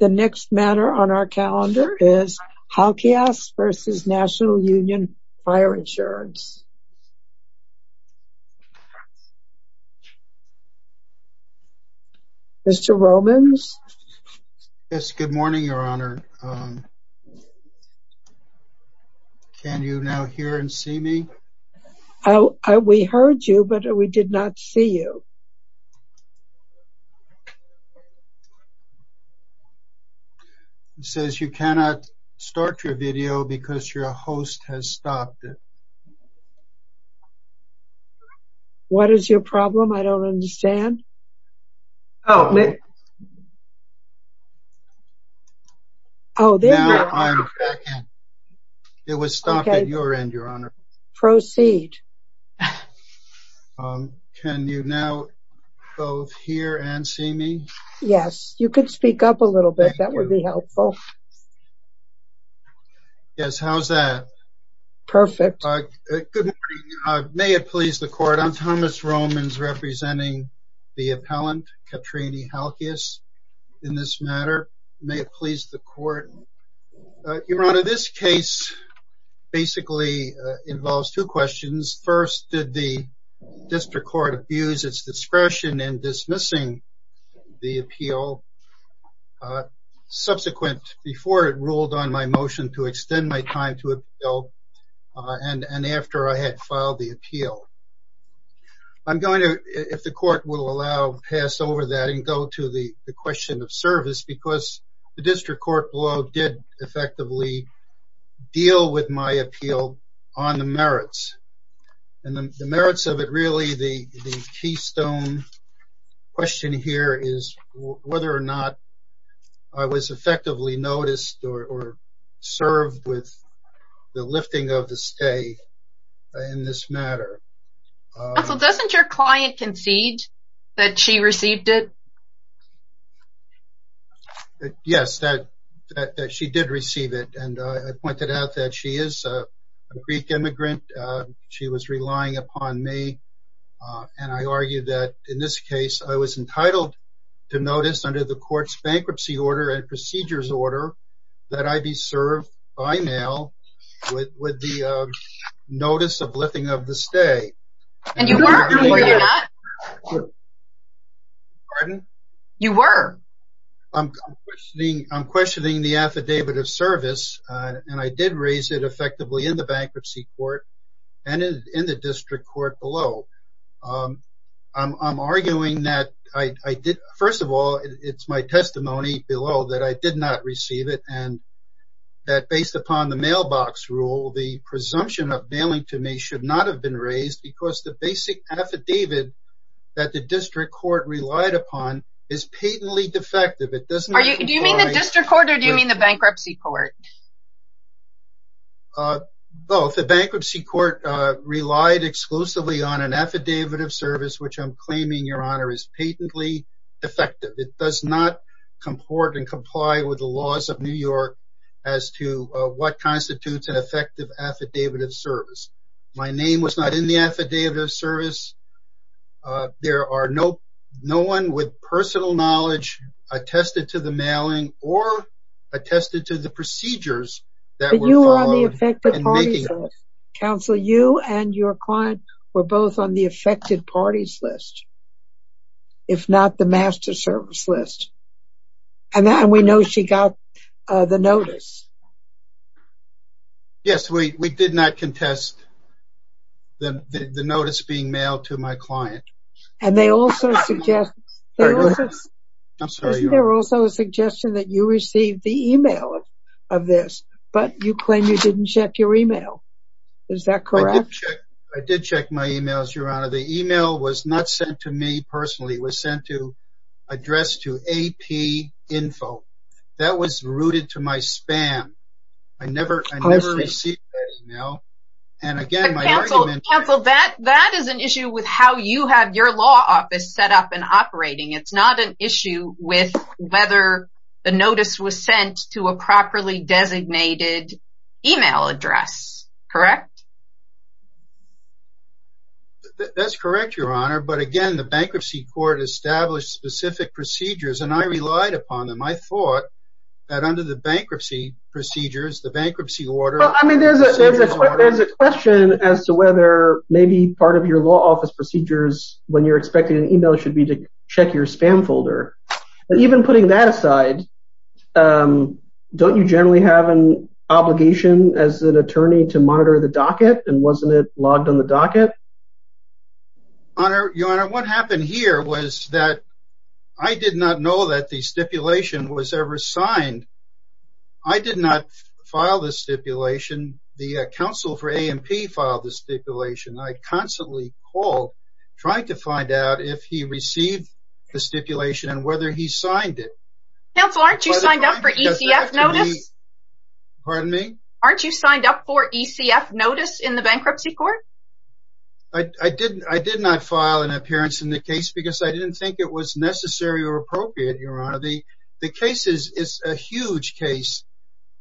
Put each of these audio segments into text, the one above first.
The next matter on our calendar is Halkias v. National Union Fire Insurance. Mr. Romans? Yes, good morning, Your Honor. Can you now hear and see me? We heard you, but we did not see you. He says you cannot start your video because your host has stopped it. What is your problem? I don't understand. Oh, there you are. It was stopped at your end, Your Honor. Proceed. Can you now both hear and see me? Yes, you could speak up a little bit. That would be helpful. Yes, how's that? Perfect. Good morning. May it please the Court, I'm Thomas Romans, representing the appellant, Katrine Halkias, in this matter. May it please the Court. Your Honor, this case basically involves two questions. First, did the District Court abuse its discretion in dismissing the appeal subsequent, before it ruled on my motion to extend my time to appeal, and after I had filed the appeal? I'm going to, if the Court will allow, pass over that and go to the question of service, because the District Court law did effectively deal with my appeal on the merits. And the merits of it, really, the keystone question here is whether or not I was effectively noticed or served with the lifting of the stay in this matter. Also, doesn't your client concede that she received it? Yes, that she did receive it, and I pointed out that she is a Greek immigrant. She was relying upon me, and I argue that in this case I was entitled to notice under the Court's bankruptcy order and procedures order that I be served by mail with the notice of lifting of the stay. And you weren't, were you not? Pardon? You were. I'm questioning the affidavit of service, and I did raise it effectively in the bankruptcy court and in the District Court below. I'm arguing that I did, first of all, it's my testimony below that I did not receive it, and that based upon the mailbox rule, the presumption of mailing to me should not have been raised because the basic affidavit that the District Court relied upon is patently defective. Do you mean the District Court, or do you mean the bankruptcy court? Both. The bankruptcy court relied exclusively on an affidavit of service, which I'm claiming, Your Honor, is patently defective. It does not have the affidavit of service. My name was not in the affidavit of service. There are no, no one with personal knowledge attested to the mailing or attested to the procedures that were followed. But you were on the affected parties list. Counsel, you and your client were both on the affected parties list, if not the master service list. And we know she got the notice. Yes, we did not contest the notice being mailed to my client. And they also suggest, there was also a suggestion that you received the email of this, but you claim you didn't check your email. Is that correct? I did check my emails, Your Honor. The email was not sent to me personally. It was sent to APinfo. That was rooted to my spam. I never, I never received that email. And again, my argument... Counsel, that, that is an issue with how you have your law office set up and operating. It's not an issue with whether the notice was sent to a properly designated email address. Correct? That's correct, Your Honor. But again, the bankruptcy court established specific procedures and I relied upon them. I thought that under the bankruptcy procedures, the bankruptcy order... Well, I mean, there's a question as to whether maybe part of your law office procedures, when you're expecting an email, should be to check your spam folder. And even putting that aside, don't you generally have an obligation as an attorney to monitor the docket? And wasn't it here was that I did not know that the stipulation was ever signed. I did not file the stipulation. The counsel for A&P filed the stipulation. I constantly called, trying to find out if he received the stipulation and whether he signed it. Counsel, aren't you signed up for ECF notice? Pardon me? Aren't you signed up for ECF notice in the bankruptcy court? I did not file an appearance in the case because I didn't think it was necessary or appropriate, Your Honor. The case is a huge case.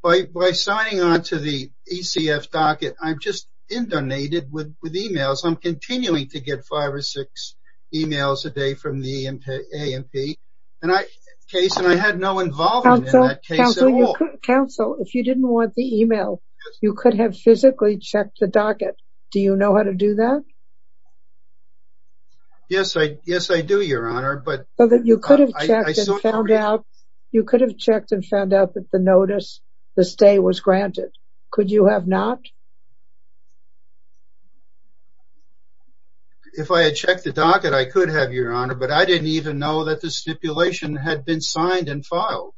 By signing on to the ECF docket, I'm just indonated with emails. I'm continuing to get five or six emails a day from the A&P case and I had no involvement in that case at all. Counsel, if you didn't want the email, you could have physically checked the docket. Do you know how to do that? Yes, I do, Your Honor. You could have checked and found out that the notice, the stay was granted. Could you have not? If I had checked the docket, I could have, Your Honor, but I didn't even know that the stipulation had been signed and filed.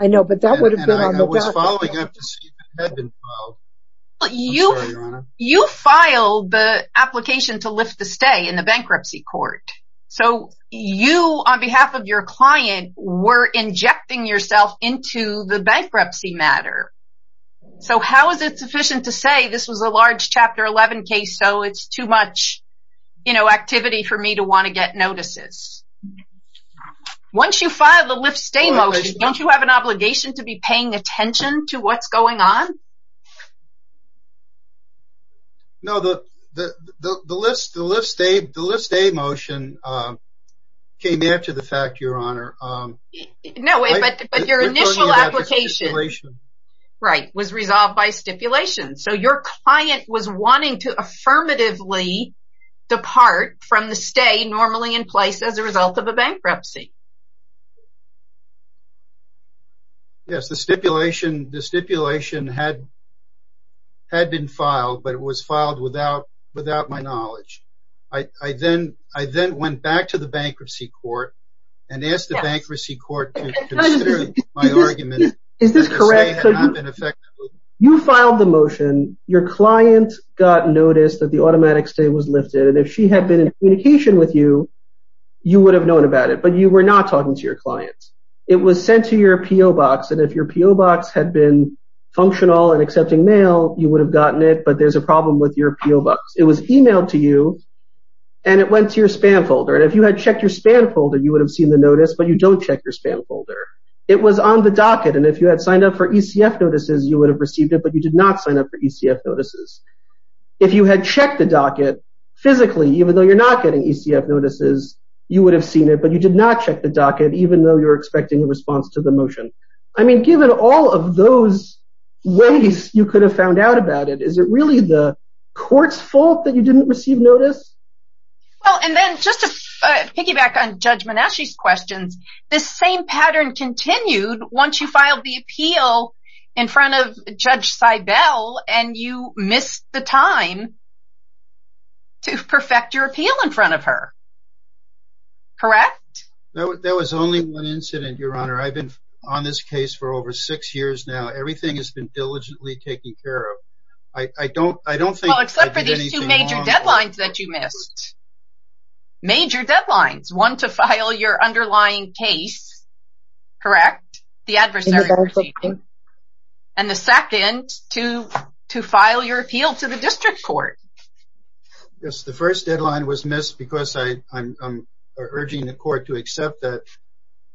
I know, but that would have been on the docket. Following up to see if it had been filed. I'm sorry, Your Honor. You filed the application to lift the stay in the bankruptcy court, so you, on behalf of your client, were injecting yourself into the bankruptcy matter, so how is it sufficient to say this was a large Chapter 11 case, so it's too much activity for me to want to get notices? Once you file the lift stay motion, don't you have obligation to be paying attention to what's going on? No, the lift stay motion came after the fact, Your Honor. No, but your initial application was resolved by stipulation, so your client was wanting to affirmatively depart from the stay normally in place as a result of a bankruptcy. Yes, the stipulation had been filed, but it was filed without my knowledge. I then went back to the bankruptcy court and asked the bankruptcy court to consider my argument. You filed the motion. Your client got noticed that the automatic stay was lifted, and if she had been in communication with you, you would have known about it, but you were not talking to your client. It was sent to your P.O. box, and if your P.O. box had been functional and accepting mail, you would have gotten it, but there's a problem with your P.O. box. It was emailed to you, and it went to your spam folder, and if you had checked your spam folder, you would have seen the notice, but you don't check your spam folder. It was on the docket, and if you had signed up for ECF notices, you would have received it, but you did not sign up for ECF notices. If you had checked the docket physically, even though you're not getting ECF notices, you would have seen it, but you did not check the docket, even though you're expecting a response to the motion. I mean, given all of those ways you could have found out about it, is it really the court's fault that you didn't receive notice? Well, and then just to piggyback on Judge Menasche's questions, this same pattern continued once you filed the appeal in front of Judge Seibel, and you missed the time to perfect your appeal in front of her. Correct? There was only one incident, Your Honor. I've been on this case for over six years now. Everything has been diligently taken care of. I don't think I did anything wrong. Well, except for these two major deadlines that you missed. Major deadlines. One to file your your appeal to the district court. Yes, the first deadline was missed because I'm urging the court to accept that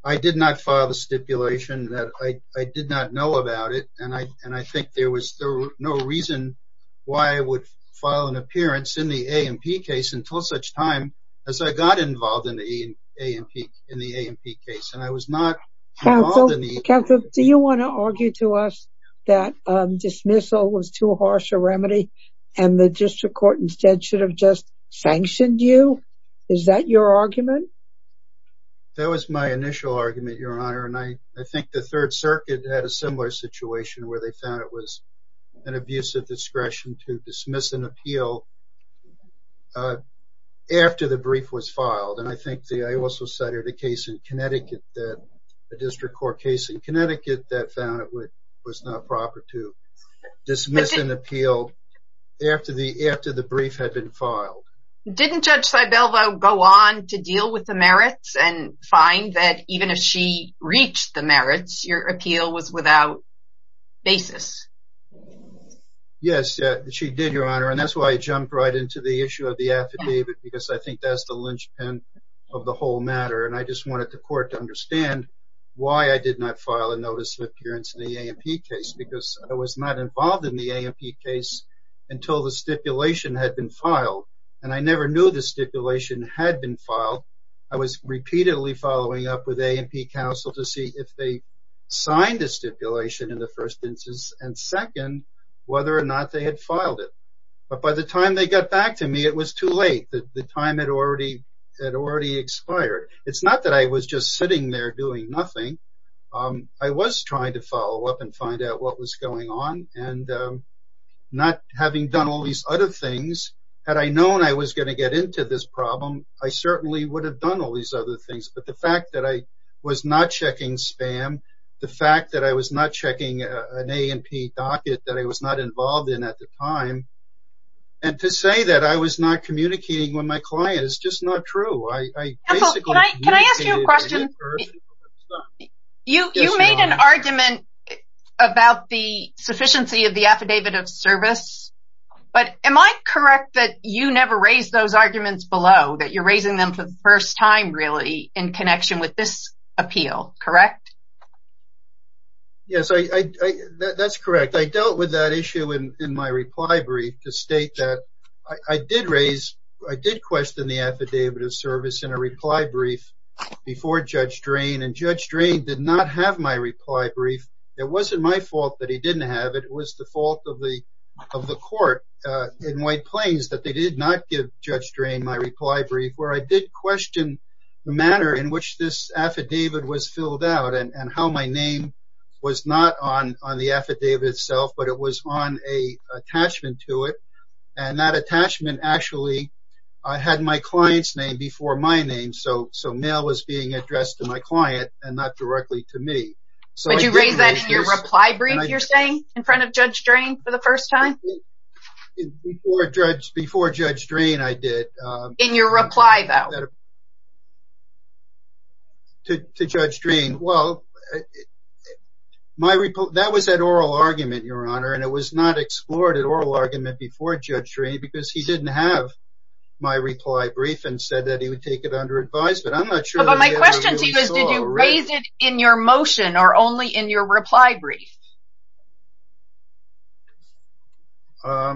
I did not file the stipulation, that I did not know about it, and I think there was no reason why I would file an appearance in the A&P case until such time as I got involved in the A&P case. Counsel, do you want to argue to us that dismissal was too harsh a remedy and the district court instead should have just sanctioned you? Is that your argument? That was my initial argument, Your Honor, and I think the Third Circuit had a similar situation where they found it was an abuse of discretion to dismiss an appeal after the brief was filed, and I think that I also cited a case in Connecticut, a district court case in Connecticut that found it was not proper to dismiss an appeal after the brief had been filed. Didn't Judge Sibelvo go on to deal with the merits and find that even if she reached the merits, your appeal was without basis? Yes, she did, Your Honor, and that's why I jumped right into the issue of the affidavit because I think that's the linchpin of the whole matter, and I just wanted the court to understand why I did not file a notice of appearance in the A&P case because I was not involved in the A&P case until the stipulation had been filed, and I never knew the stipulation had been filed. I was repeatedly following up with A&P counsel to see if they signed the stipulation in the first instance and second, whether or not they had filed it, but by the time they got back to me, it was too late. The time had already expired. It's not that I was just sitting there doing nothing. I was trying to follow up and find out what was going on, and not having done all these other things, had I known I was going to get into this problem, I certainly would have done all these other things, but the fact that I was not checking spam, the fact that I was not checking an A&P docket that I was not involved in at the time, and to say that I was not communicating with my client is just not true. I basically... Can I ask you a question? You made an argument about the sufficiency of the affidavit of service, but am I correct that you never raised those arguments below, that you're raising them for the first time really in connection with this appeal, correct? Yes, that's correct. I dealt with that issue in my reply brief to state that I did raise, I did question the affidavit of service in a reply brief before Judge Drain, and Judge Drain did not have my reply brief. It wasn't my fault that he didn't have it. It was the fault of the court in White Plains that they did not give Judge Drain my reply brief, where I did question the manner in and how my name was not on the affidavit itself, but it was on an attachment to it, and that attachment actually had my client's name before my name, so mail was being addressed to my client and not directly to me. Would you raise that in your reply brief, you're saying, in front of Judge Drain for the first time? Before Judge Drain, I did. In your reply though? To Judge Drain, well, that was at oral argument, Your Honor, and it was not explored at oral argument before Judge Drain, because he didn't have my reply brief and said that he would take it under advice, but I'm not sure. But my question to you is, did you raise it in your motion or only in your reply brief? In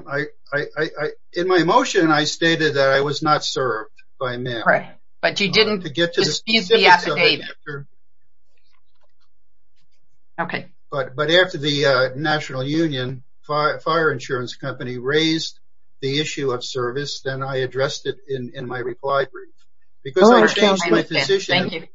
my motion, I stated that I was not served by mail, but after the National Union Fire Insurance Company raised the issue of service, then I addressed it in my reply brief, because I changed my position.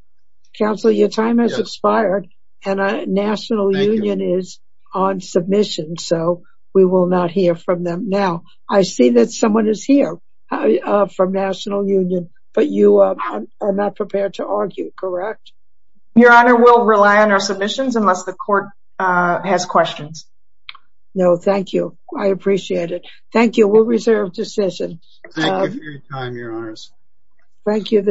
Counselor, your time has expired, and National Union is on submission, so we will not hear from them now. I see that someone is here from National Union, but you are not prepared to argue, correct? Your Honor, we'll rely on our submissions unless the court has questions. No, thank you. I appreciate it. Thank you. We'll reserve decision. Thank you.